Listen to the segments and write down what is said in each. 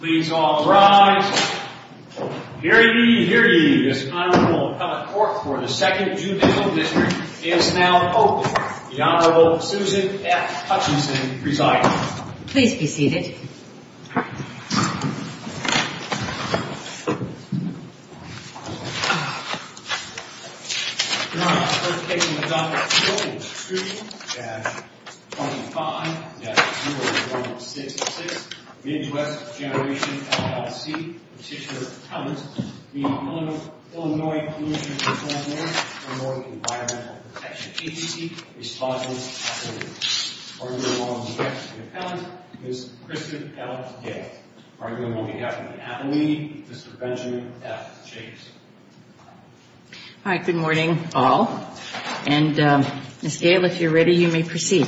Please all rise. Hear ye, hear ye. This Honorable Appellate Court for the 2nd Judicial District is now open. The Honorable Susan F. Hutchinson presiding. Please be seated. Your Honor, the first case in the Doctrine and Covenants 3-25-2166, Midwest Generation, LLC, Petitioner Appellant, the Illinois Pollution Control Board, Illinois Environmental Protection Agency, Respondent Appellate. Arguing along the back of the appellant, Ms. Kristin L. Gale. Arguing on behalf of the appellee, Mr. Benjamin F. Jacobs. Hi, good morning all. And Ms. Gale, if you're ready, you may proceed.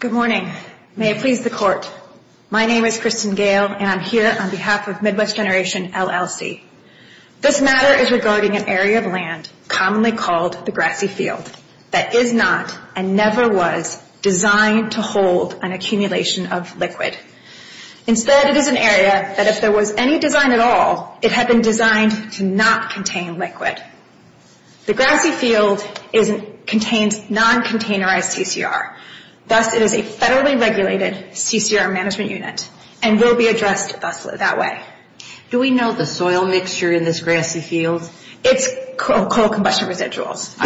Good morning. May it please the Court, my name is Kristin Gale, and I'm here on behalf of Midwest Generation, LLC. This matter is regarding an area of land commonly called the grassy field, that is not, and never was, designed to hold an accumulation of liquid. Instead, it is an area that if there was any design at all, it had been designed to not contain liquid. The grassy field contains non-containerized CCR. Thus, it is a federally regulated CCR management unit, and will be addressed thusly that way. Do we know the soil mixture in this grassy field? It's coal combustion residuals.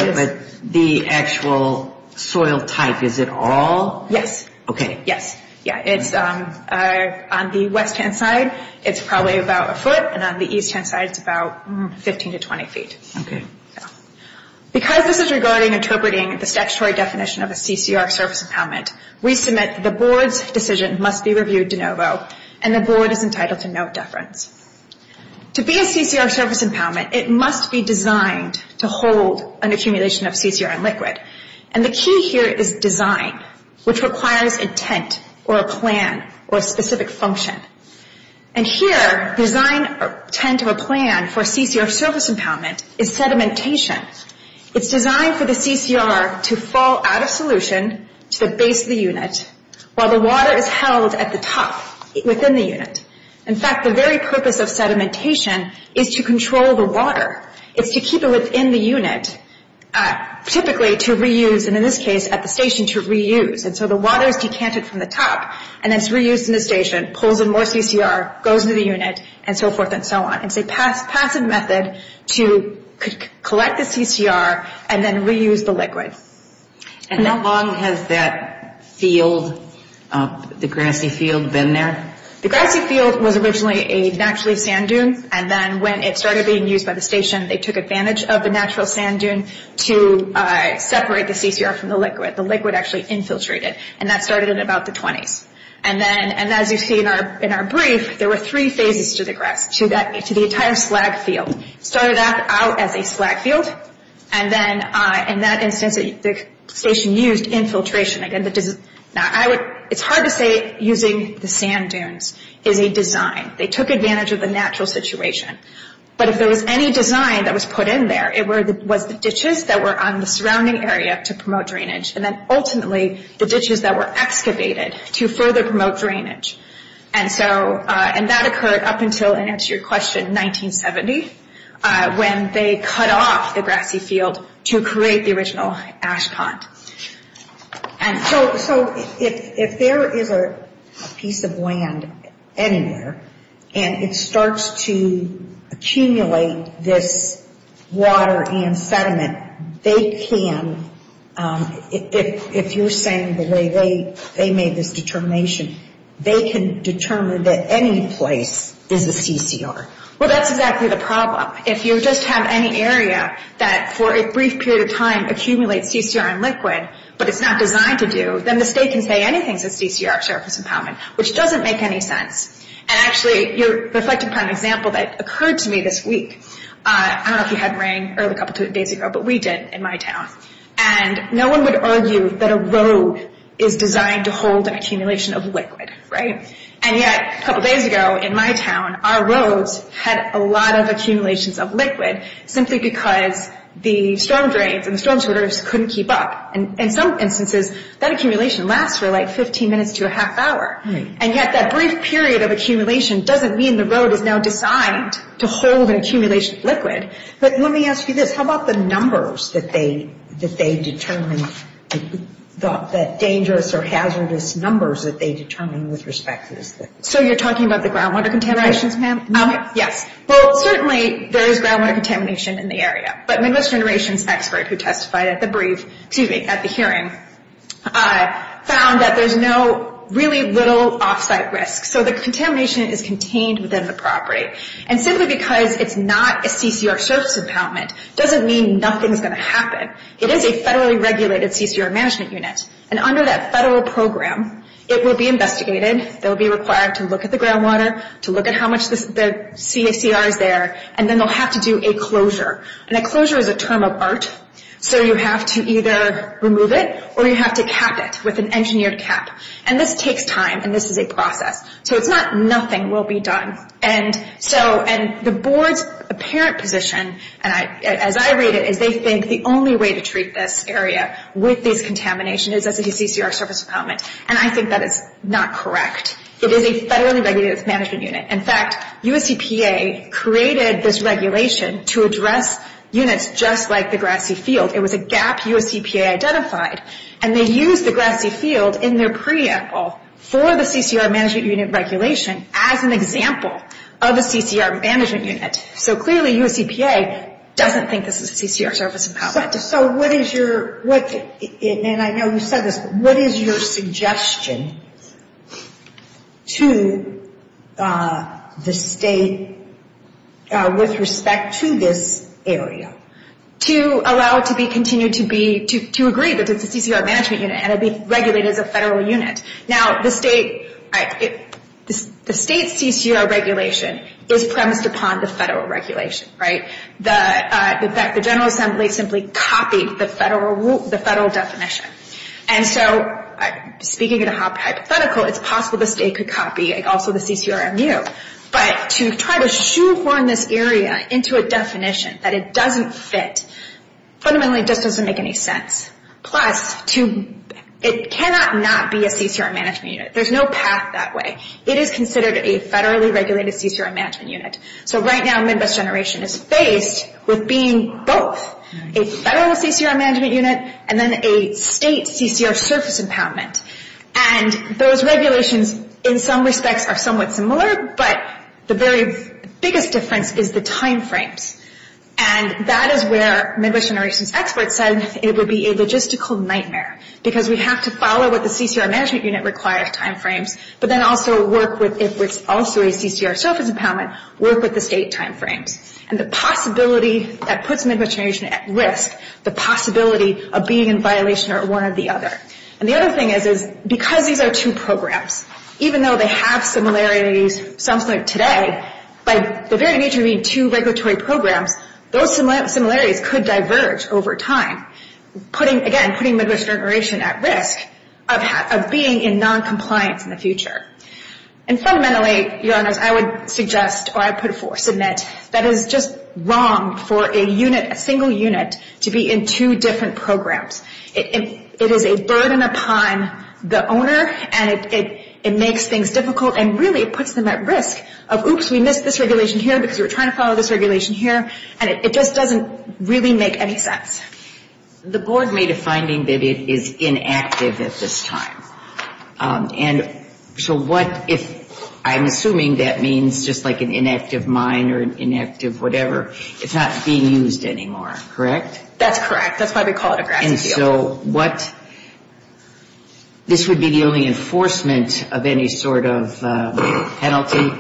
The actual soil type, is it all? Yes. OK. Yes. Yeah, it's on the west-hand side, it's probably about a foot. And on the east-hand side, it's about 15 to 20 feet. Because this is regarding interpreting the statutory definition of a CCR service impoundment, we submit the board's decision must be reviewed de novo, and the board is entitled to no deference. To be a CCR service impoundment, it must be designed to hold an accumulation of CCR and liquid. And the key here is design, which requires a tent, or a plan, or a specific function. And here, design, or tent, or a plan for a CCR service impoundment is sedimentation. It's designed for the CCR to fall out of solution to the base of the unit, while the water is held at the top within the unit. In fact, the very purpose of sedimentation is to control the water. It's to keep it within the unit, typically to reuse, and in this case, at the station to reuse. And so the water is decanted from the top, and it's reused in the station, pulls in more CCR, goes into the unit, and so forth and so on. It's a passive method to collect the CCR and then reuse the liquid. And how long has that field, the grassy field, been there? The grassy field was originally a naturally sand dune, and then when it started being used by the station, they took advantage of the natural sand dune to separate the CCR from the liquid. The liquid actually infiltrated, and that started in about the 20s. And as you see in our brief, there were three phases to the grass, to the entire slag field. Started out as a slag field, and then in that instance, the station used infiltration. Now, it's hard to say using the sand dunes is a design. They took advantage of the natural situation. But if there was any design that was put in there, it was the ditches that were on the surrounding area to promote drainage, and then ultimately, the ditches that were excavated to further promote drainage. And that occurred up until, and that's your question, 1970, when they cut off the grassy field to create the original ash pond. And so, if there is a piece of land anywhere, and it starts to accumulate this water and sediment, they can, if you're saying the way they made this determination, they can determine that any place is a CCR. Well, that's exactly the problem. If you just have any area that, for a brief period of time, accumulates CCR and liquid, but it's not designed to do, then the state can say anything says CCR, surface impoundment, which doesn't make any sense. And actually, you're reflecting upon an example that occurred to me this week. I don't know if you had rain a couple days ago, but we did in my town. And no one would argue that a road is designed to hold an accumulation of liquid, right? And yet, a couple days ago in my town, our roads had a lot of accumulations of liquid simply because the storm drains, and the storm sweaters couldn't keep up. And in some instances, that accumulation lasts for like 15 minutes to a half hour. And yet, that brief period of accumulation doesn't mean the road is now designed to hold an accumulation of liquid. But let me ask you this, how about the numbers that they determined, the dangerous or hazardous numbers that they determined with respect to this liquid? So you're talking about the groundwater contaminations, ma'am? Yes, well, certainly there is groundwater contamination in the area, but Midwest Generations expert who testified at the hearing found that there's no really little offsite risk. So the contamination is contained within the property. And simply because it's not a CCR service impoundment doesn't mean nothing's gonna happen. It is a federally regulated CCR management unit. And under that federal program, it will be investigated, they'll be required to look at the groundwater, to look at how much the CACR is there, and then they'll have to do a closure. And a closure is a term of art. So you have to either remove it, or you have to cap it with an engineered cap. And this takes time, and this is a process. So it's not nothing will be done. And the board's apparent position, as I read it, is they think the only way to treat this area with this contamination is as a CCR service impoundment. And I think that is not correct. It is a federally regulated management unit. In fact, US EPA created this regulation to address units just like the Grassy Field. It was a gap US EPA identified. And they used the Grassy Field in their preamble for the CCR management unit regulation as an example of a CCR management unit. So clearly US EPA doesn't think this is a CCR service impoundment. So what is your, and I know you said this, what is your suggestion to the state with respect to this area to allow it to be continued to be, to agree that it's a CCR management unit and it'd be regulated as a federal unit? Now the state, the state's CCR regulation is premised upon the federal regulation, right? The General Assembly simply copied the federal definition. And so speaking in a hypothetical, it's possible the state could copy also the CCRMU. But to try to shoehorn this area into a definition that it doesn't fit fundamentally just doesn't make any sense. Plus it cannot not be a CCR management unit. There's no path that way. It is considered a federally regulated CCR management unit. So right now Midwest Generation is faced with being both a federal CCR management unit and then a state CCR service impoundment. And those regulations in some respects are somewhat similar, but the very biggest difference is the timeframes. And that is where Midwest Generation's experts said it would be a logistical nightmare because we have to follow what the CCR management unit requires timeframes, but then also work with, if it's also a CCR service impoundment, work with the state timeframes. And the possibility that puts Midwest Generation at risk, the possibility of being in violation or one or the other. And the other thing is, is because these are two programs, even though they have similarities, something like today, by the very nature of being two regulatory programs, those similarities could diverge over time. Putting, again, putting Midwest Generation at risk of being in non-compliance in the future. And fundamentally, your honors, I would suggest, or I put forth, submit, that is just wrong for a unit, a single unit, to be in two different programs. It is a burden upon the owner and it makes things difficult and really it puts them at risk of, oops, we missed this regulation here because we're trying to follow this regulation here. And it just doesn't really make any sense. The board made a finding that it is inactive at this time. And so what if, I'm assuming that means just like an inactive mine or an inactive whatever, it's not being used anymore, correct? That's correct. That's why we call it a grassy field. And so what, this would be the only enforcement of any sort of penalty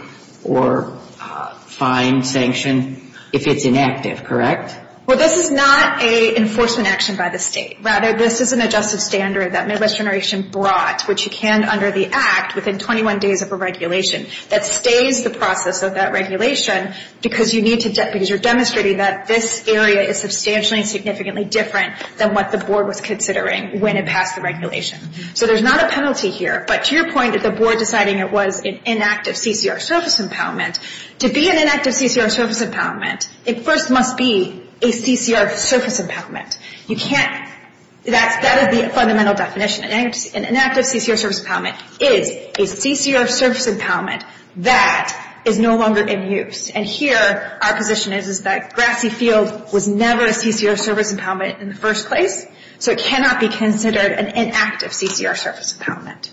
or fine sanction if it's inactive, correct? Well, this is not a enforcement action by the state. Rather, this is an adjusted standard that Midwest Generation brought, which you can under the act, within 21 days of a regulation, that stays the process of that regulation because you're demonstrating that this area is substantially and significantly different than what the board was considering when it passed the regulation. So there's not a penalty here, but to your point that the board deciding it was an inactive CCR surface impoundment, to be an inactive CCR surface impoundment, it first must be a CCR surface impoundment. You can't, that is the fundamental definition. An inactive CCR surface impoundment is a CCR surface impoundment that is no longer in use. And here our position is that grassy field was never a CCR surface impoundment in the first place, so it cannot be considered an inactive CCR surface impoundment.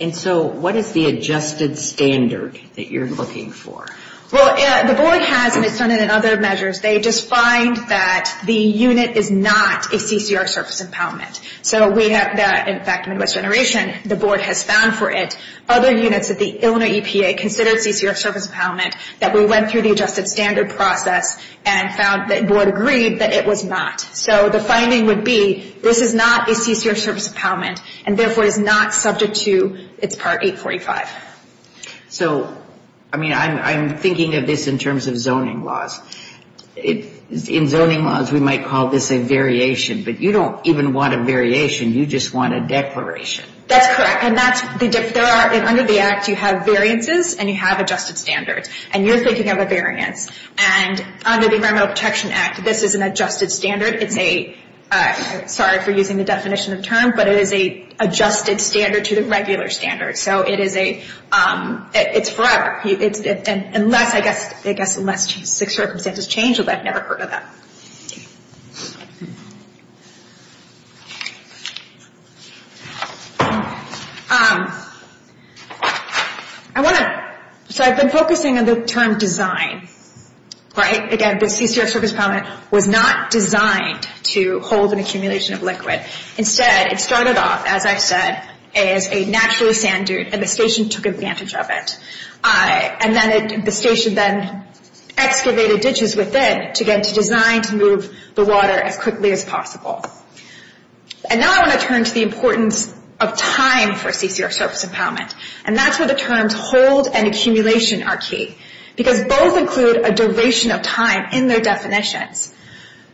And so what is the adjusted standard that you're looking for? Well, the board has, and it's done it in other measures, they just find that the unit is not a CCR surface impoundment. So we have that, in fact, Midwest Generation, the board has found for it, other units that the Illinois EPA considered CCR surface impoundment that we went through the adjusted standard process and found that board agreed that it was not. So the finding would be, this is not a CCR surface impoundment and therefore is not subject to its Part 845. So, I mean, I'm thinking of this in terms of zoning laws. In zoning laws, we might call this a variation, but you don't even want a variation, you just want a declaration. That's correct, and that's, there are, under the Act, you have variances and you have adjusted standards, and you're thinking of a variance. And under the Environmental Protection Act, this is an adjusted standard, it's a, sorry for using the definition of term, but it is a adjusted standard to the regular standard. So it is a, it's forever. Unless, I guess, unless circumstances change, although I've never heard of that. I wanna, so I've been focusing on the term design, right? Again, the CCR surface impoundment was not designed to hold an accumulation of liquid. Instead, it started off, as I've said, as a natural sand dune, and the station took advantage of it. And then it, the station then excavated ditches within to get, to design to move the water as quickly as possible. And now I wanna turn to the importance of time for CCR surface impoundment. And that's where the terms hold and accumulation are key. Because both include a duration of time in their definitions.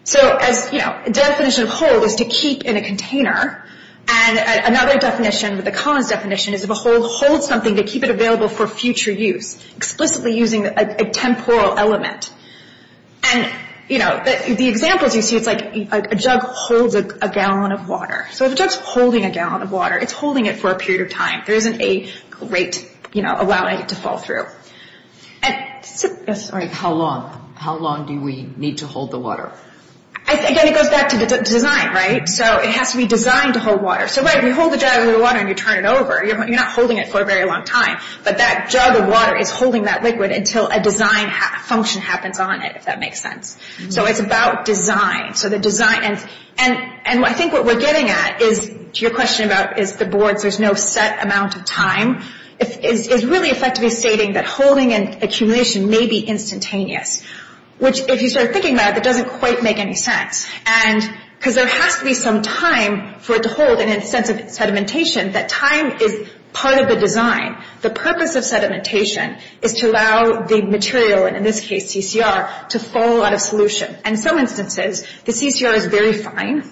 So as, you know, a definition of hold is to keep in a container, and another definition, the Collins definition, is if a hold holds something, to keep it available for future use, explicitly using a temporal element. And, you know, the examples you see, it's like a jug holds a gallon of water. So if a jug's holding a gallon of water, it's holding it for a period of time. There isn't a great, you know, allowing it to fall through. And so, yes, sorry. How long, how long do we need to hold the water? Again, it goes back to the design, right? So it has to be designed to hold water. So right, we hold a jug of water and you turn it over, you're not holding it for a very long time. But that jug of water is holding that liquid until a design function happens on it, if that makes sense. So it's about design. So the design, and I think what we're getting at is, to your question about is the boards, there's no set amount of time, it's really effectively stating that holding and accumulation may be instantaneous. Which, if you start thinking about it, that doesn't quite make any sense. And, because there has to be some time for it to hold in a sense of sedimentation, that time is part of the design. The purpose of sedimentation is to allow the material, and in this case, CCR, to fall out of solution. And some instances, the CCR is very fine.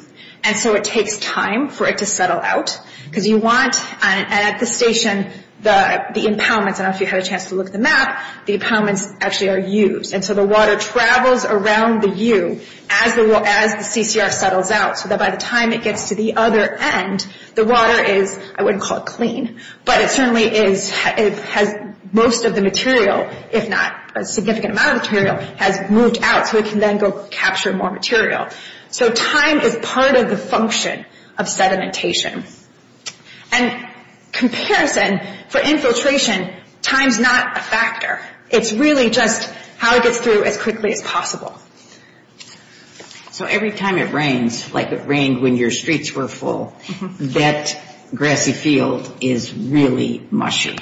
And so it takes time for it to settle out. Because you want, at the station, the impoundments, I don't know if you had a chance to look at the map, the impoundments actually are used. And so the water travels around the U as the CCR settles out. So that by the time it gets to the other end, the water is, I wouldn't call it clean, but it certainly is, it has most of the material, if not a significant amount of material, has moved out so it can then go capture more material. So time is part of the function of sedimentation. And comparison, for infiltration, time's not a factor. It's really just how it gets through as quickly as possible. So every time it rains, like it rained when your streets were full, that grassy field is really mushy.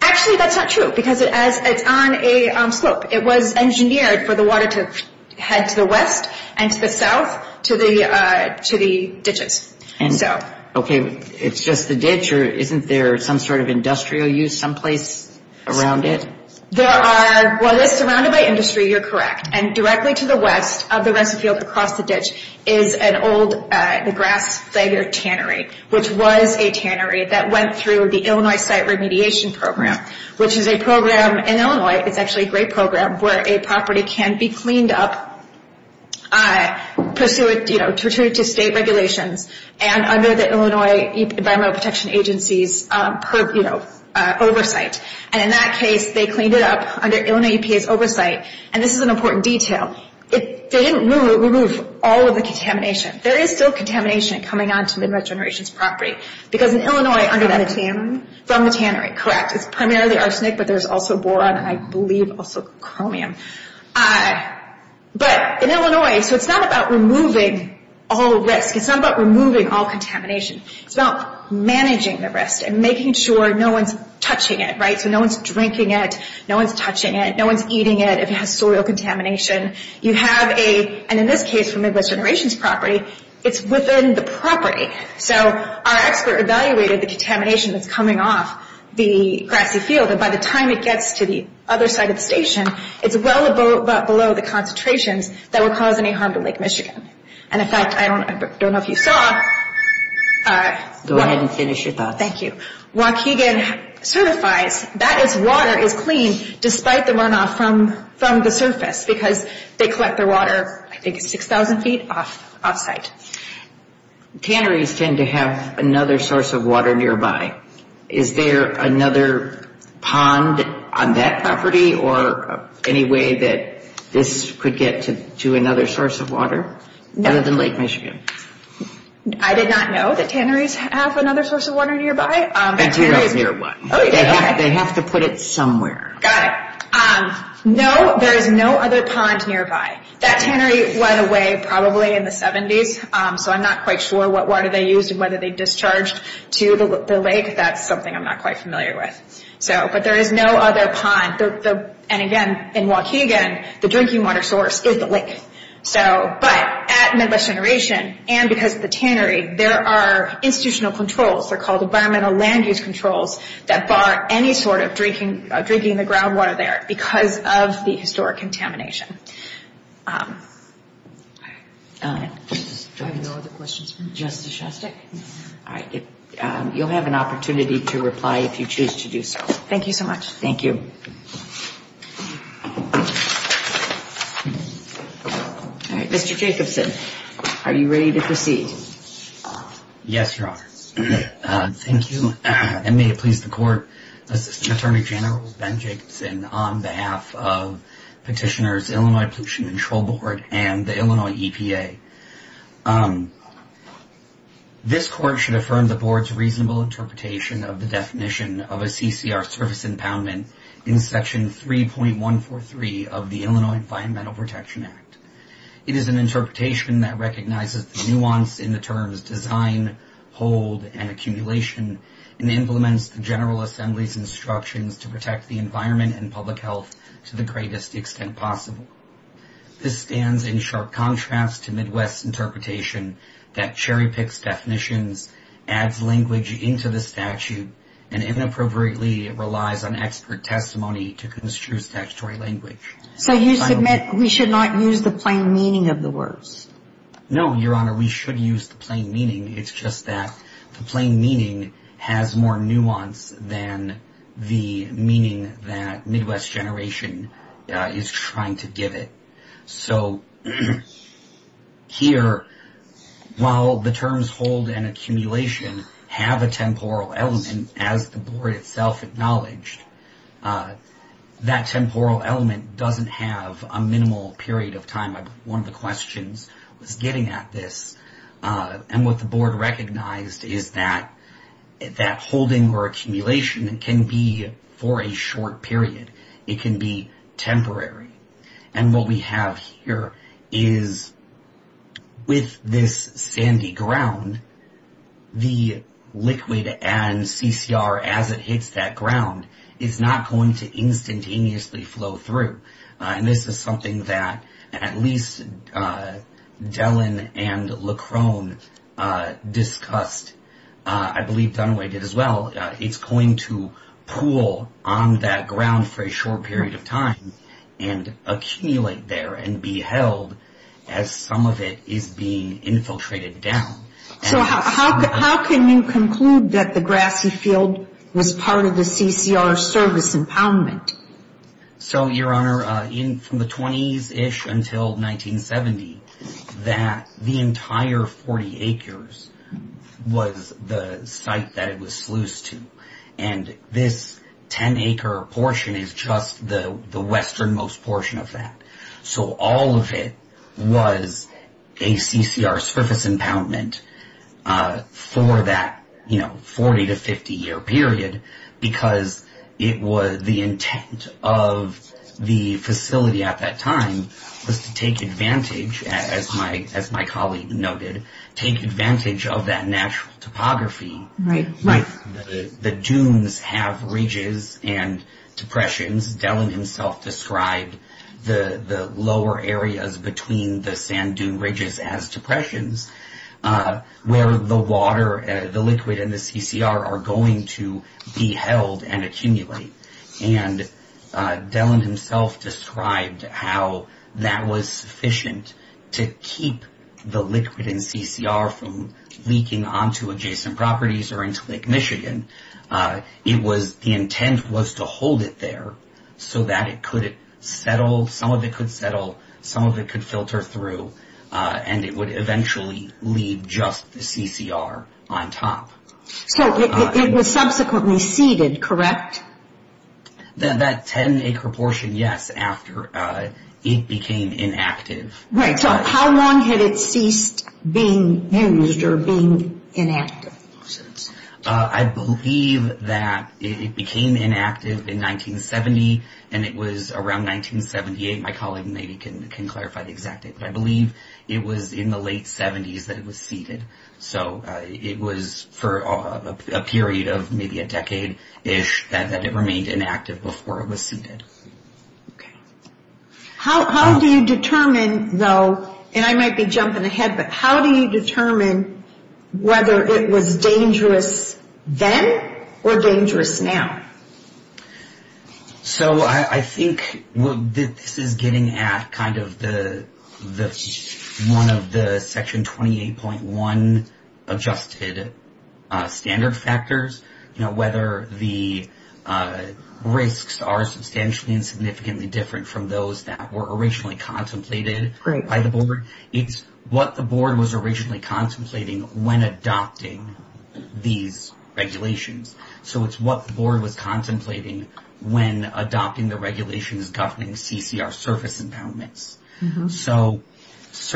Actually, that's not true, because it's on a slope. It was engineered for the water to head to the west and to the south, to the ditches, so. Okay, it's just the ditch, or isn't there some sort of industrial use someplace around it? There are, well, it's surrounded by industry, you're correct, and directly to the west of the rest of the field across the ditch is an old, the Grass Slagger Tannery, which was a tannery that went through the Illinois Site Remediation Program, which is a program in Illinois, it's actually a great program, where a property can be cleaned up pursuant to state regulations, and under the Illinois Environmental Protection Agency's oversight, and in that case, they cleaned it up under Illinois EPA's oversight, and this is an important detail. It didn't remove all of the contamination. There is still contamination coming on to Midwest Generations property, because in Illinois, under that- From the tannery, correct. It's primarily arsenic, but there's also boron, and I believe also chromium. But in Illinois, so it's not about removing all risk, it's not about removing all contamination, it's about managing the risk, and making sure no one's touching it, right? So no one's drinking it, no one's touching it, no one's eating it if it has soil contamination. You have a, and in this case, from Midwest Generations property, it's within the property, so our expert evaluated the contamination that's coming off the grassy field, so that by the time it gets to the other side of the station, it's well below the concentrations that would cause any harm to Lake Michigan. And in fact, I don't know if you saw- Go ahead and finish your thoughts. Thank you. Waukegan certifies that its water is clean, despite the runoff from the surface, because they collect their water, I think it's 6,000 feet off site. Tanneries tend to have another source of water nearby. Is there another pond on that property, or any way that this could get to another source of water, other than Lake Michigan? I did not know that tanneries have another source of water nearby. A tannery is near one. Oh, yeah, okay. They have to put it somewhere. Got it. No, there is no other pond nearby. That tannery went away probably in the 70s, so I'm not quite sure what water they used, and whether they discharged to the lake. That's something I'm not quite familiar with. But there is no other pond. And again, in Waukegan, the drinking water source is the lake. But at Midwest Generation, and because of the tannery, there are institutional controls, they're called environmental land use controls, that bar any sort of drinking the groundwater there, because of the historic contamination. Do I have no other questions for you? Justice Shostak? All right, you'll have an opportunity to reply if you choose to do so. Thank you so much. Thank you. All right, Mr. Jacobson, are you ready to proceed? Yes, Your Honor. Thank you, and may it please the court, Assistant Attorney General Ben Jacobson, on behalf of Petitioner's Illinois, Illinois Pollution Control Board, and the Illinois EPA. This court should affirm the board's reasonable interpretation of the definition of a CCR service impoundment in Section 3.143 of the Illinois Environmental Protection Act. It is an interpretation that recognizes the nuance in the terms design, hold, and accumulation, and implements the General Assembly's instructions to protect the environment and public health to the greatest extent possible. This stands in sharp contrast to Midwest's interpretation that cherry-picks definitions, adds language into the statute, and inappropriately relies on expert testimony to construe statutory language. So you submit, we should not use the plain meaning of the words? No, Your Honor, we should use the plain meaning. It's just that the plain meaning has more nuance than the meaning that Midwest Generation is trying to give it. So, here, while the terms hold and accumulation have a temporal element, as the board itself acknowledged, that temporal element doesn't have a minimal period of time. One of the questions was getting at this. And what the board recognized is that holding or accumulation can be for a short period. It can be temporary. And what we have here is, with this sandy ground, the liquid and CCR, as it hits that ground, is not going to instantaneously flow through. And this is something that at least Dellen and Leckrone discussed, I believe Dunway did as well, it's going to pool on that ground for a short period of time, and accumulate there and be held as some of it is being infiltrated down. So how can you conclude that the grassy field was part of the CCR service impoundment? So, Your Honor, from the 20s-ish until 1970, that the entire 40 acres was the site that it was sluice to. And this 10-acre portion is just the westernmost portion of that. So all of it was a CCR service impoundment for that 40- to 50-year period, because the intent of the facility at that time was to take advantage, as my colleague noted, take advantage of that natural topography. Right, right. The dunes have ridges and depressions. Dellen himself described the lower areas between the sand dune ridges as depressions, where the water, the liquid, and the CCR are going to be held and accumulate. And Dellen himself described how that was sufficient to keep the liquid and CCR from leaking onto adjacent properties or into Lake Michigan. It was, the intent was to hold it there so that it could settle, some of it could settle, some of it could filter through, and it would eventually leave just the CCR on top. So it was subsequently seeded, correct? That 10-acre portion, yes, after it became inactive. Right, so how long had it ceased being used or being inactive? I believe that it became inactive in 1970, and it was around 1978. My colleague maybe can clarify the exact date, but I believe it was in the late 70s that it was seeded. So it was for a period of maybe a decade-ish that it remained inactive before it was seeded. Okay. How do you determine, though, and I might be jumping ahead, but how do you determine whether it was dangerous then or dangerous now? So I think this is getting at kind of the, one of the Section 28.1 adjusted standard factors, whether the risks are substantially and significantly different from those that were originally contemplated by the board. It's what the board was originally contemplating when adopting these regulations. So it's what the board was contemplating when adopting the regulations governing CCR surface impoundments. So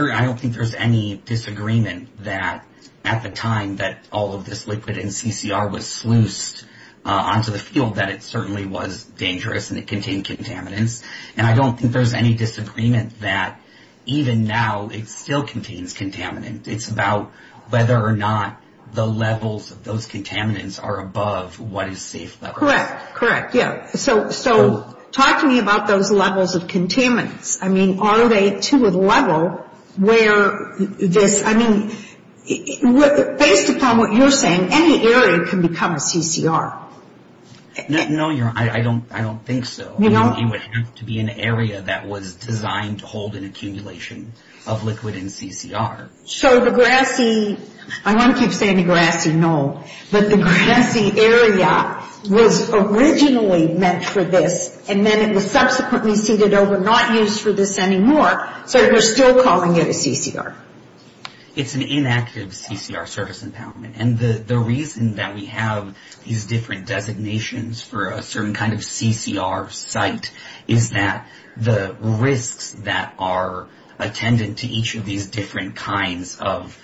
I don't think there's any disagreement that at the time that all of this liquid in CCR was sluiced onto the field, that it certainly was dangerous and it contained contaminants. And I don't think there's any disagreement that even now it still contains contaminants. It's about whether or not the levels of those contaminants are above what is safe levels. Correct, correct, yeah. So talk to me about those levels of contaminants. I mean, are they to a level where this, I mean, based upon what you're saying, any area can become a CCR. No, I don't think so. You don't? It would have to be an area that was designed to hold an accumulation of liquid in CCR. So the grassy, I want to keep saying the grassy, no, but the grassy area was originally meant for this and then it was subsequently ceded over, and it's not used for this anymore. So we're still calling it a CCR. It's an inactive CCR service empowerment. And the reason that we have these different designations for a certain kind of CCR site is that the risks that are attendant to each of these different kinds of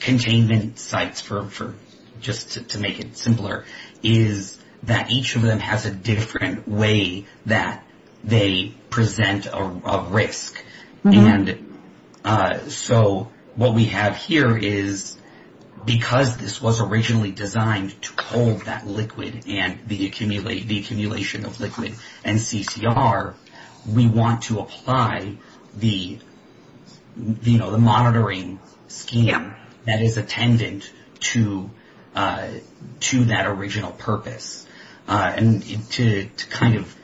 containment sites for just to make it simpler, is that each of them has a different way that they present a risk. And so what we have here is, because this was originally designed to hold that liquid and the accumulation of liquid and CCR, we want to apply the monitoring scheme that is attendant to that original purpose. And to kind of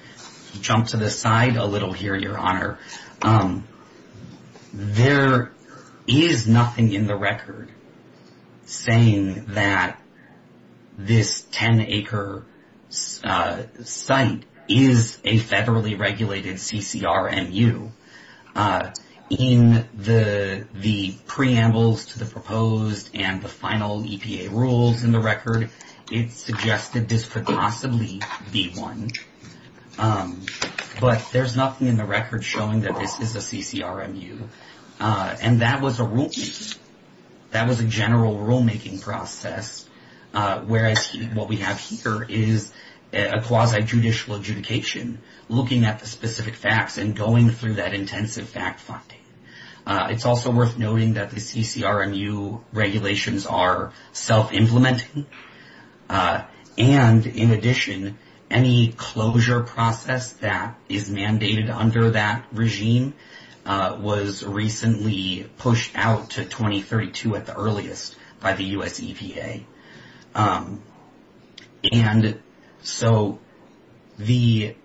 jump to the side a little here, Your Honor, there is nothing in the record saying that this 10-acre site is a federally regulated CCR MU. In the preambles to the proposed and the final EPA rules in the record, it suggested this could possibly be one. But there's nothing in the record showing that this is a CCR MU. And that was a rule-making. That was a general rule-making process. Whereas what we have here is a quasi-judicial adjudication, looking at the specific facts and going through that intensive fact-finding. It's also worth noting that the CCR MU regulations are self-implementing. And in addition, any closure process that is mandated under that regime was recently pushed out to 2032 at the earliest by the U.S. EPA. And so the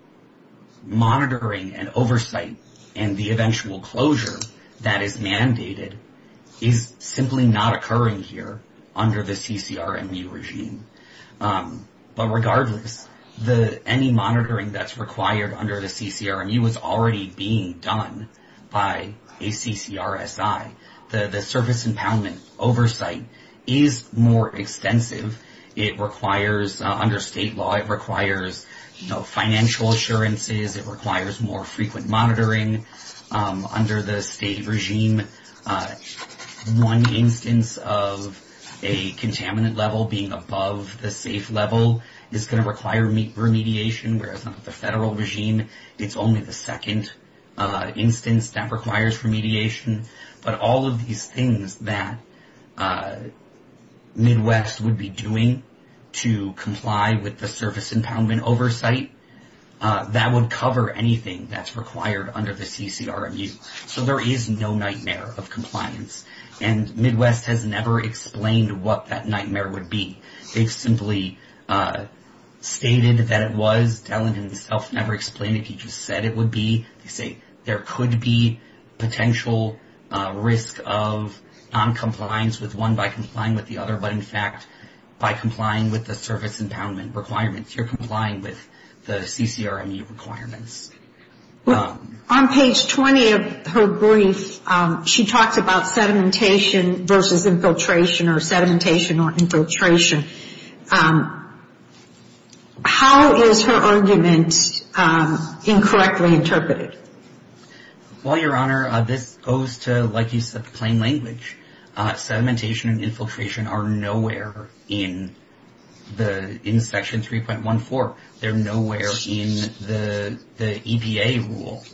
monitoring and oversight and the eventual closure that is mandated is simply not occurring here under the CCR MU regime. But regardless, any monitoring that's required under the CCR MU is already being done by a CCR SI. The service impoundment oversight is more extensive. It requires, under state law, it requires financial assurances. It requires more frequent monitoring. Under the state regime, one instance of a contaminant level being above the safe level is gonna require remediation, whereas under the federal regime, it's only the second instance that requires remediation. But all of these things that Midwest would be doing to comply with the service impoundment oversight, that would cover anything that's required under the CCR MU. So there is no nightmare of compliance. And Midwest has never explained what that nightmare would be. They've simply stated that it was. Dellon himself never explained if he just said it would be. They say there could be potential risk of noncompliance with one by complying with the other, but in fact, by complying with the service impoundment requirements, you're complying with the CCR MU requirements. On page 20 of her brief, she talks about sedimentation versus infiltration or sedimentation or infiltration. How is her argument incorrectly interpreted? Well, Your Honor, this goes to, like you said, the plain language. Sedimentation and infiltration are nowhere in the, in section 3.14. They're nowhere in the EPA rule.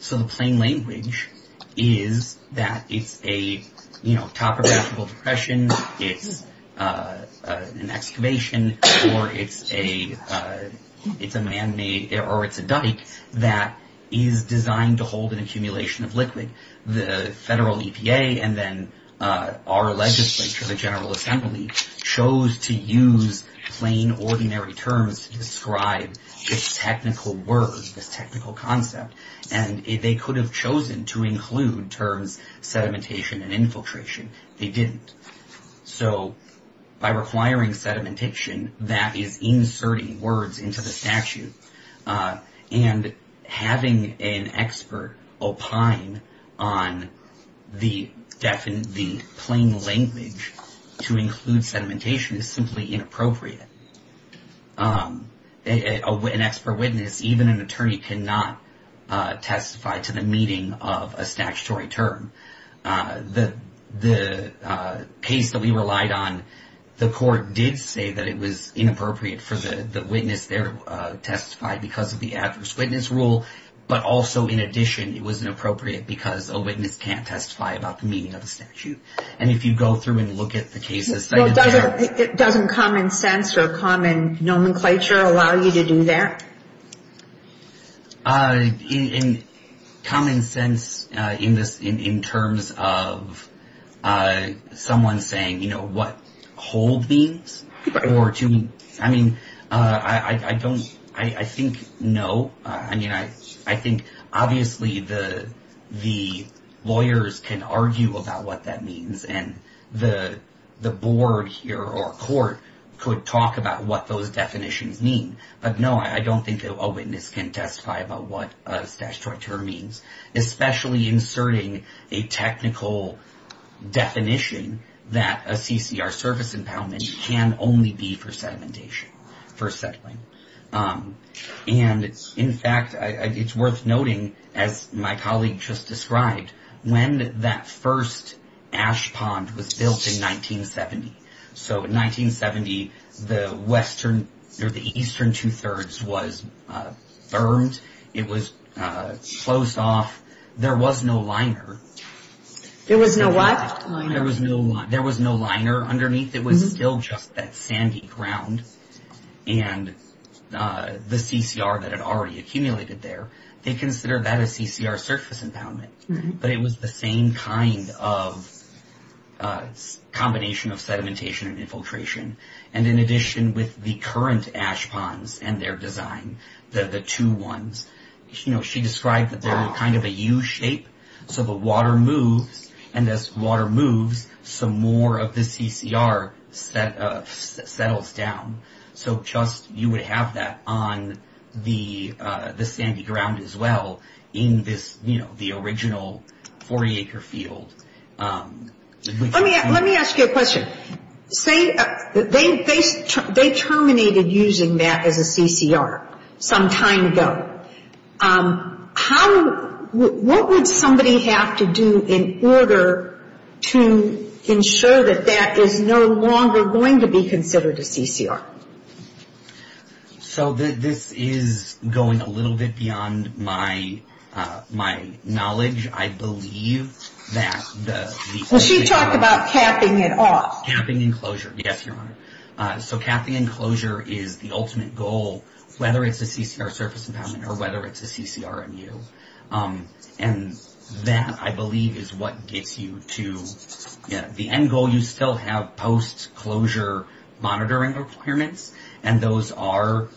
So the plain language is that it's a, you know, topographical depression, it's an excavation, or it's a man-made, or it's a dike that is designed to hold an accumulation of liquid. The federal EPA and then our legislature, the General Assembly, chose to use plain, ordinary terms to describe this technical word, this technical concept. And they could have chosen to include terms sedimentation and infiltration. They didn't. So by requiring sedimentation, that is inserting words into the statute. And having an expert opine on the plain language to include sedimentation is simply inappropriate. An expert witness, even an attorney, cannot testify to the meeting of a statutory term. The case that we relied on, the court did say that it was inappropriate for the witness there to testify because of the adverse witness rule. But also, in addition, it was inappropriate because a witness can't testify about the meeting of the statute. And if you go through and look at the cases, they did say that. Well, doesn't common sense or common nomenclature allow you to do that? In common sense, in terms of someone saying, you know, what hold means, or to, I mean, I don't, I think no. I mean, I think obviously the lawyers can argue about what that means. And the board here, or court, could talk about what those definitions mean. But no, I don't think a witness can testify about what a statutory term means. Especially inserting a technical definition that a CCR service impoundment can only be for sedimentation, for settling. And in fact, it's worth noting, as my colleague just described, when that first ash pond was built in 1970. So in 1970, the western, or the eastern two-thirds was burned. It was closed off. There was no liner. There was no what? There was no liner underneath. It was still just that sandy ground. And the CCR that had already accumulated there, they considered that a CCR surface impoundment. But it was the same kind of combination of sedimentation and infiltration. And in addition, with the current ash ponds and their design, the two ones, she described that they were kind of a U shape. So the water moves, and as water moves, some more of the CCR settles down. So just, you would have that on the sandy ground as well in this, you know, the original 40-acre field. Let me ask you a question. Say, they terminated using that as a CCR some time ago. How, what would somebody have to do in order to ensure that that is no longer going to be considered a CCR? So this is going a little bit beyond my knowledge. I believe that the- Well, she talked about capping it off. Capping and closure, yes, Your Honor. So capping and closure is the ultimate goal, whether it's a CCR surface impoundment or whether it's a CCRMU. And that, I believe, is what gets you to the end goal. You still have post-closure monitoring requirements, and those are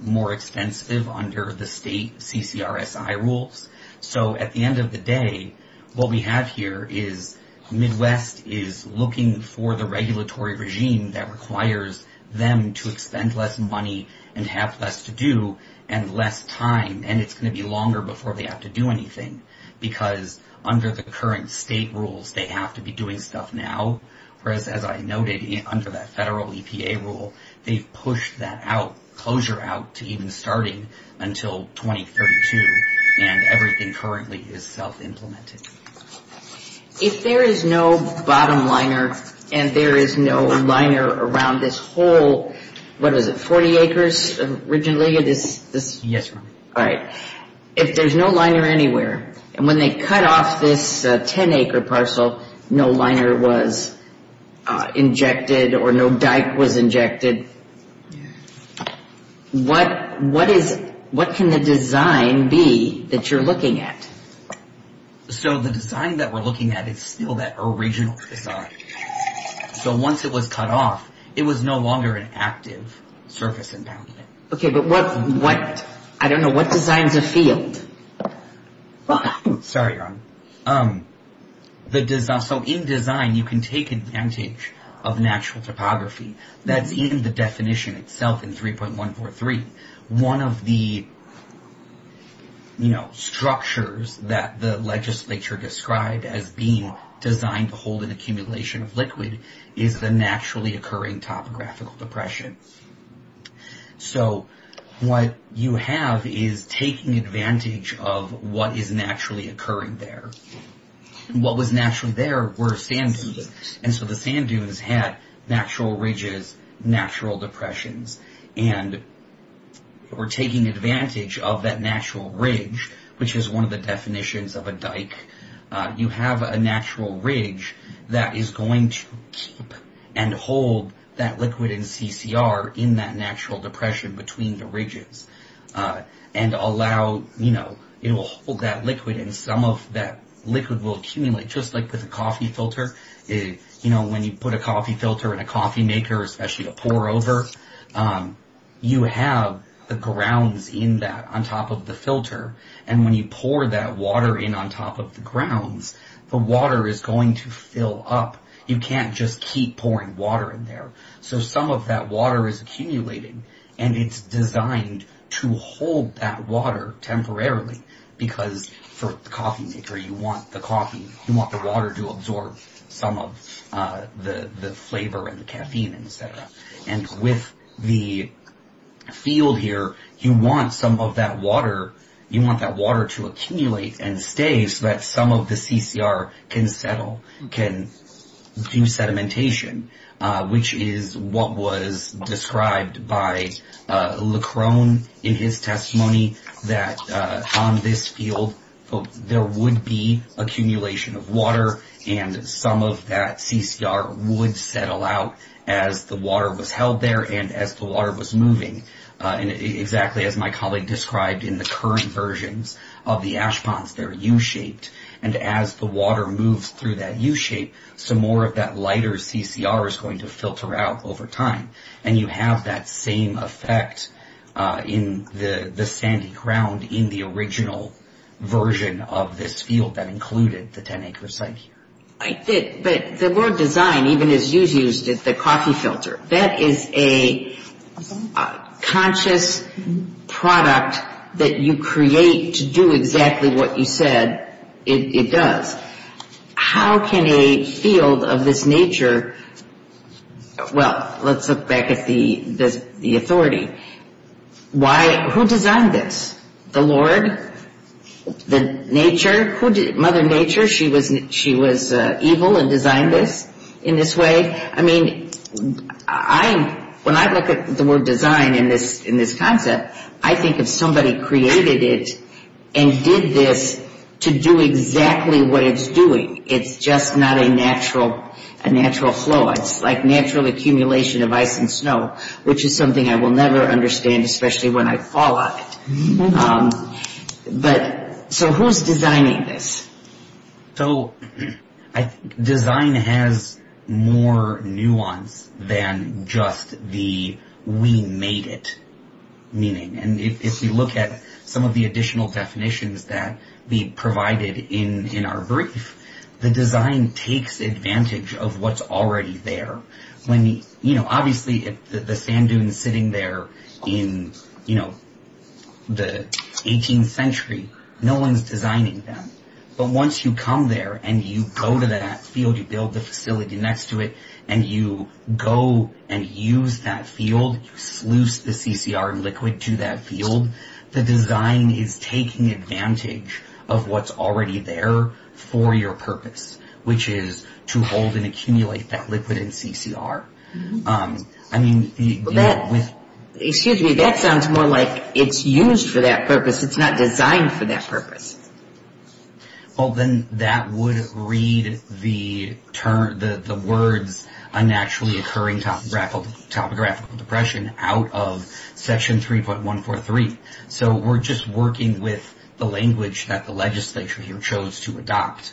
more expensive under the state CCRSI rules. So at the end of the day, what we have here is Midwest is looking for the regulatory regime that requires them to expend less money and have less to do and less time, and it's going to be longer before they have to do anything because under the current state rules, they have to be doing stuff now, whereas as I noted under that federal EPA rule, they pushed that out, closure out to even starting until 2032, and everything currently is self-implemented. If there is no bottom liner and there is no liner around this whole, what is it, 40 acres originally, or this- Yes, Your Honor. All right, if there's no liner anywhere, and when they cut off this 10-acre parcel, no liner was injected or no dike was injected, what can the design be that you're looking at? So the design that we're looking at is still that original design. So once it was cut off, it was no longer an active surface impoundment. Okay, but what, I don't know, what designs a field? Well, sorry, Your Honor, so in design, you can take advantage of natural topography. That's in the definition itself in 3.143. One of the structures that the legislature described as being designed to hold an accumulation of liquid is the naturally occurring topographical depression. Okay, so what you have is taking advantage of what is naturally occurring there. What was naturally there were sand dunes, and so the sand dunes had natural ridges, natural depressions, and we're taking advantage of that natural ridge, which is one of the definitions of a dike. You have a natural ridge that is going to keep and hold that liquid in CCR in that natural depression between the ridges and allow, you know, it will hold that liquid and some of that liquid will accumulate just like with a coffee filter. You know, when you put a coffee filter in a coffee maker, especially to pour over, you have the grounds in that on top of the filter, and when you pour that water in on top of the grounds, the water is going to fill up. You can't just keep pouring water in there. So some of that water is accumulating and it's designed to hold that water temporarily because for the coffee maker, you want the coffee, you want the water to absorb some of the flavor and the caffeine, et cetera. And with the field here, you want some of that water, you want that water to accumulate and stay so that some of the CCR can settle, can do sedimentation, which is what was described by Leckrone in his testimony that on this field, there would be accumulation of water and some of that CCR would settle out as the water was held there and as the water was moving. And exactly as my colleague described in the current versions of the ash ponds, they're U-shaped and as the water moves through that U-shape, some more of that lighter CCR is going to filter out over time. And you have that same effect in the sandy ground in the original version of this field that included the 10-acre site here. I did, but the word design, even as you've used it, the coffee filter, that is a conscious product that you create to do exactly what you said it does. How can a field of this nature, well, let's look back at the authority. Who designed this? The Lord? The nature? Mother Nature, she was evil and designed this in this way? I mean, when I look at the word design in this concept, I think of somebody created it and did this to do exactly what it's doing. It's just not a natural flow. It's like natural accumulation of ice and snow, which is something I will never understand, especially when I fall on it. So who's designing this? So design has more nuance than just the we made it, meaning, and if we look at some of the additional definitions that we provided in our brief, the design takes advantage of what's already there. Obviously, the sand dunes sitting there in the 18th century, no one's designing them. But once you come there and you go to that field, you build the facility next to it, and you go and use that field, you sluice the CCR liquid to that field, the design is taking advantage of what's already there for your purpose, which is to hold and accumulate that liquid and CCR. I mean, with... Excuse me, that sounds more like it's used for that purpose, it's not designed for that purpose. Well, then that would read the words, a naturally occurring topographical depression out of section 3.143. So we're just working with the language that the legislature here chose to adopt.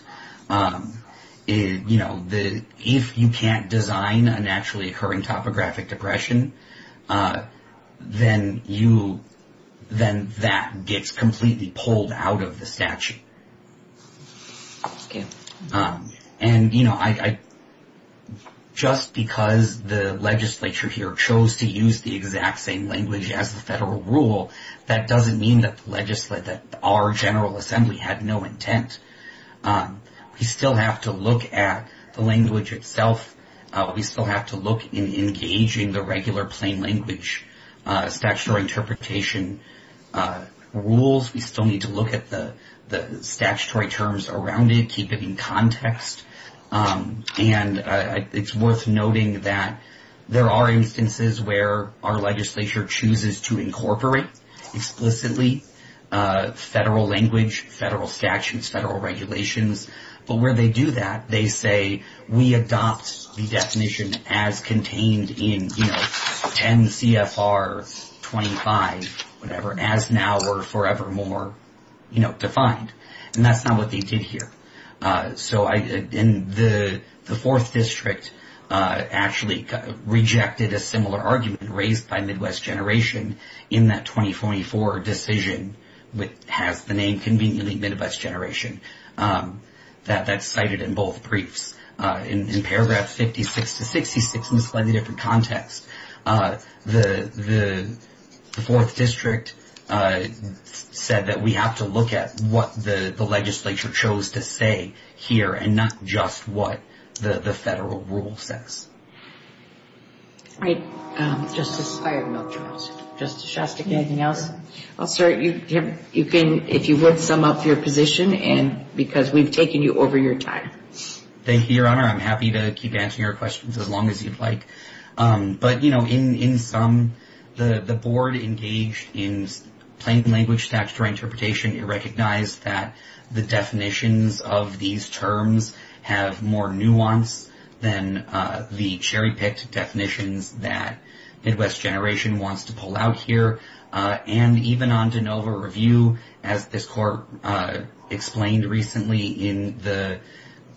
If you can't design a naturally occurring topographic depression, then that gets completely pulled out of the statute. Just because the legislature here chose to use the exact same language as the federal rule, that doesn't mean that our General Assembly had no intent. We still have to look at the language itself, we still have to look in engaging the regular plain language statutory interpretation rules, we still need to look at the statutory terms around it, keep it in context, and it's worth noting that there are instances where our legislature chooses to incorporate explicitly federal language, federal statutes, federal regulations, but where they do that, they say we adopt the definition as contained in 10 CFR 25, whatever, as now or forevermore defined. And that's not what they did here. So the fourth district actually rejected a similar argument raised by Midwest Generation in that 2044 decision, which has the name conveniently Midwest Generation. That's cited in both briefs. In paragraph 56 to 66, in a slightly different context, the fourth district said that we have to look at what the legislature chose to say here, and not just what the federal rule says. All right, Justice Shostak, anything else? Well, sir, if you would sum up your position, and because we've taken you over your time. Thank you, Your Honor. I'm happy to keep answering your questions as long as you'd like. But in sum, the board engaged in plain language statutory interpretation. It recognized that the definitions of these terms have more nuance than the cherry-picked definitions that Midwest Generation wants to pull out here. And even on DeNova review, as this court explained recently in the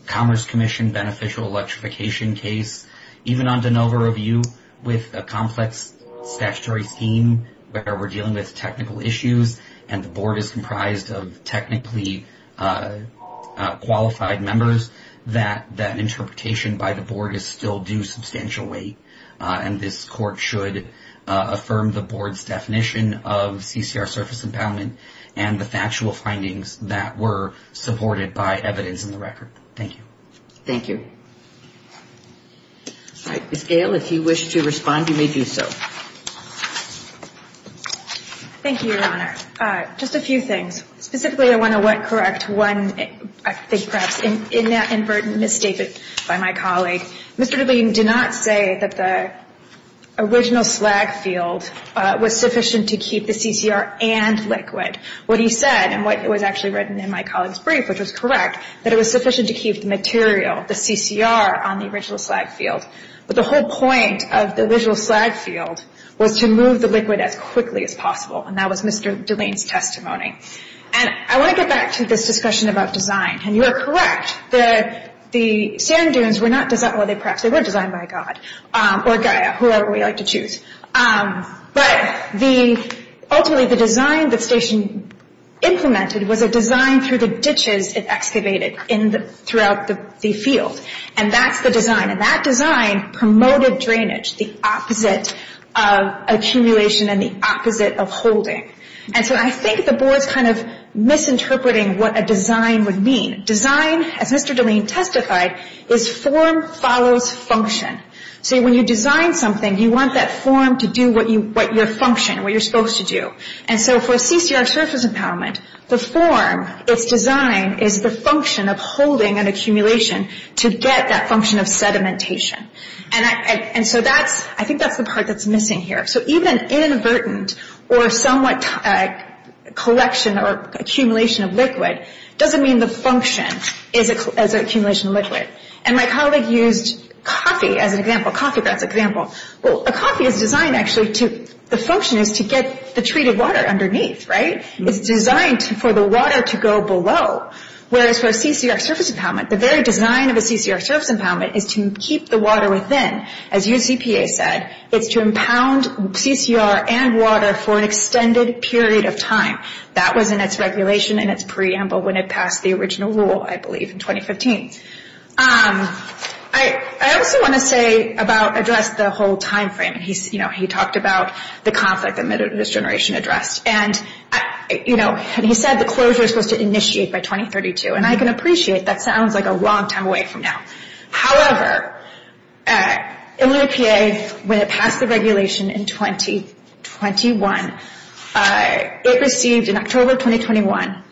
Commerce Commission beneficial electrification case, even on DeNova review with a complex statutory scheme where we're dealing with technical issues and the board is comprised of technically qualified members, that interpretation by the board is still due substantial weight. And this court should affirm the board's definition of CCR surface impoundment and the factual findings that were supported by evidence in the record. Thank you. Thank you. Ms. Gail, if you wish to respond, you may do so. Thank you, Your Honor. Just a few things. Specifically, I want to correct one, I think perhaps inadvertent misstatement by my colleague. Mr. DeLean did not say that the original slag field was sufficient to keep the CCR and liquid. What he said and what was actually written in my colleague's brief, which was correct, that it was sufficient to keep the material, the CCR on the original slag field. But the whole point of the visual slag field was to move the liquid as quickly as possible. And that was Mr. DeLean's testimony. And I want to get back to this discussion about design. And you are correct, the sand dunes were designed by God or Gaia, whoever we like to choose. But ultimately the design the station implemented was a design through the ditches it excavated throughout the field. And that's the design. And that design promoted drainage, the opposite of accumulation and the opposite of holding. And so I think the board's kind of misinterpreting what a design would mean. Design, as Mr. DeLean testified, is form follows function. So when you design something, you want that form to do what your function, what you're supposed to do. And so for CCR surface empowerment, the form it's designed is the function of holding an accumulation to get that function of sedimentation. And so that's, I think that's the part that's missing here. So even inadvertent or somewhat collection or accumulation of liquid doesn't mean the function is an accumulation of liquid. And my colleague used coffee as an example, coffee grounds example. Well, a coffee is designed actually to, the function is to get the treated water underneath, right? It's designed for the water to go below. Whereas for CCR surface empowerment, the very design of a CCR surface empowerment is to keep the water within. As UCPA said, it's to impound CCR and water for an extended period of time. That was in its regulation and its preamble when it passed the original rule, I believe in 2015. I also want to say about address the whole timeframe. And he's, you know, he talked about the conflict that this generation addressed. And, you know, and he said the closure is supposed to initiate by 2032. And I can appreciate that sounds like a long time away from now. However, in the EPA, when it passed the regulation in 2021, it received in October, 2021,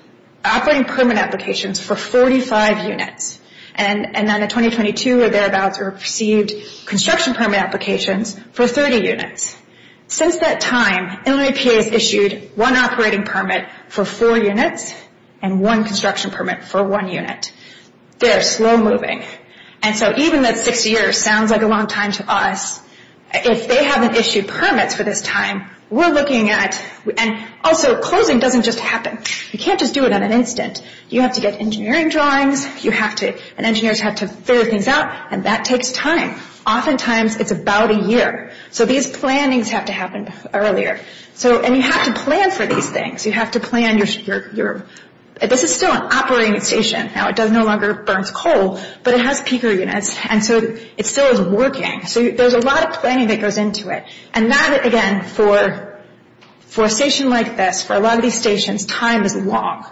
operating permit applications for 45 units. And then in 2022 or thereabouts, we received construction permit applications for 30 units. Since that time, Illinois EPA has issued one operating permit for four units and one construction permit for one unit. They're slow moving. And so even that six years sounds like a long time to us. If they haven't issued permits for this time, we're looking at, and also closing doesn't just happen. You can't just do it in an instant. You have to get engineering drawings. You have to, and engineers have to figure things out. And that takes time. Oftentimes it's about a year. So these plannings have to happen earlier. So, and you have to plan for these things. You have to plan your, this is still an operating station. Now it does no longer burns coal, but it has peaker units. And so it still is working. So there's a lot of planning that goes into it. And that, again, for a station like this, for a lot of these stations, time is long.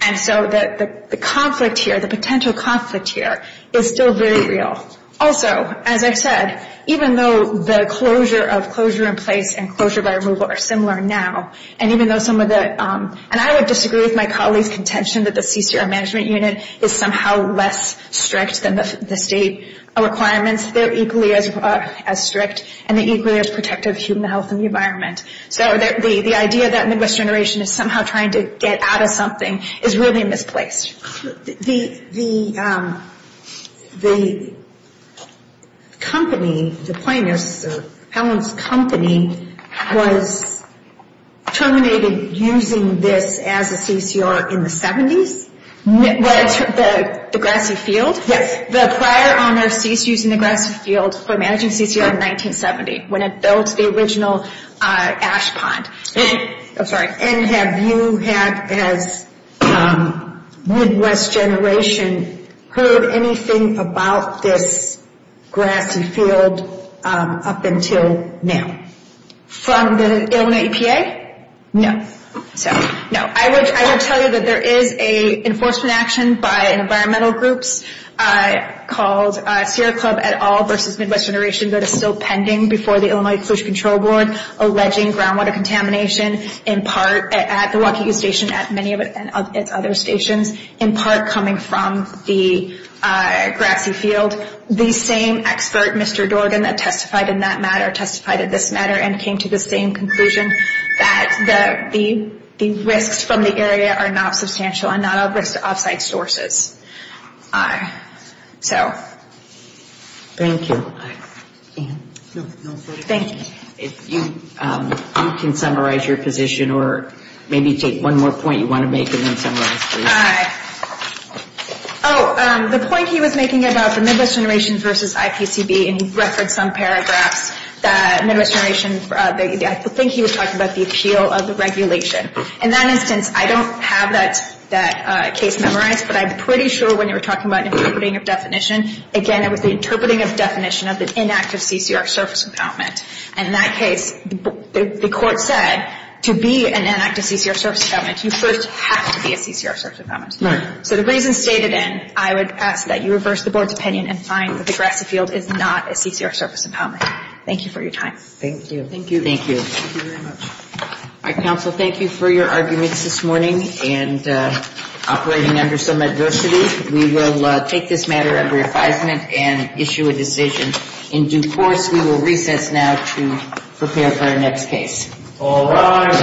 And so the conflict here, the potential conflict here is still very real. Also, as I said, even though the closure of closure in place and closure by removal are similar now, and even though some of the, and I would disagree with my colleagues' contention that the CCR management unit is somehow less strict than the state requirements. They're equally as strict and they're equally as protective of human health and the environment. So the idea that Midwest Generation is somehow trying to get out of something is really misplaced. The company, the planners, Helen's company, was terminated using this as a CCR in the 70s? What, the Grassy Field? Yes. The prior owner ceased using the Grassy Field for managing CCR in 1970 when it built the original ash pond. I'm sorry. And have you had, as Midwest Generation, heard anything about this grassy field up until now? From the Illinois EPA? No. So, no. I would tell you that there is a enforcement action by environmental groups called Sierra Club et al versus Midwest Generation that is still pending before the Illinois Fish Control Board alleging groundwater contamination in part at the Waukee Station, at many of its other stations, in part coming from the Grassy Field. The same expert, Mr. Dorgan, that testified in that matter testified in this matter and came to the same conclusion that the risks from the area are not substantial and not all risks are offsite sources. So. Thank you. Thank you. If you can summarize your position or maybe take one more point you want to make and then summarize, please. Oh, the point he was making about the Midwest Generation versus IPCB, and he referenced some paragraphs that Midwest Generation, I think he was talking about the appeal of the regulation. In that instance, I don't have that case memorized, but I'm pretty sure when you were talking about interpreting of definition, again, it was the interpreting of definition of the inactive CCR surface impoundment. And in that case, the court said to be an inactive CCR surface impoundment, you first have to be a CCR surface impoundment. So the reason stated in, I would ask that you reverse the board's opinion and find that the Grassy Field is not a CCR surface impoundment. Thank you for your time. Thank you. Thank you. Thank you very much. All right, counsel, thank you for your arguments this morning and operating under some adversity. We will take this matter under advisement and issue a decision. In due course, we will recess now to prepare for our next case. All rise.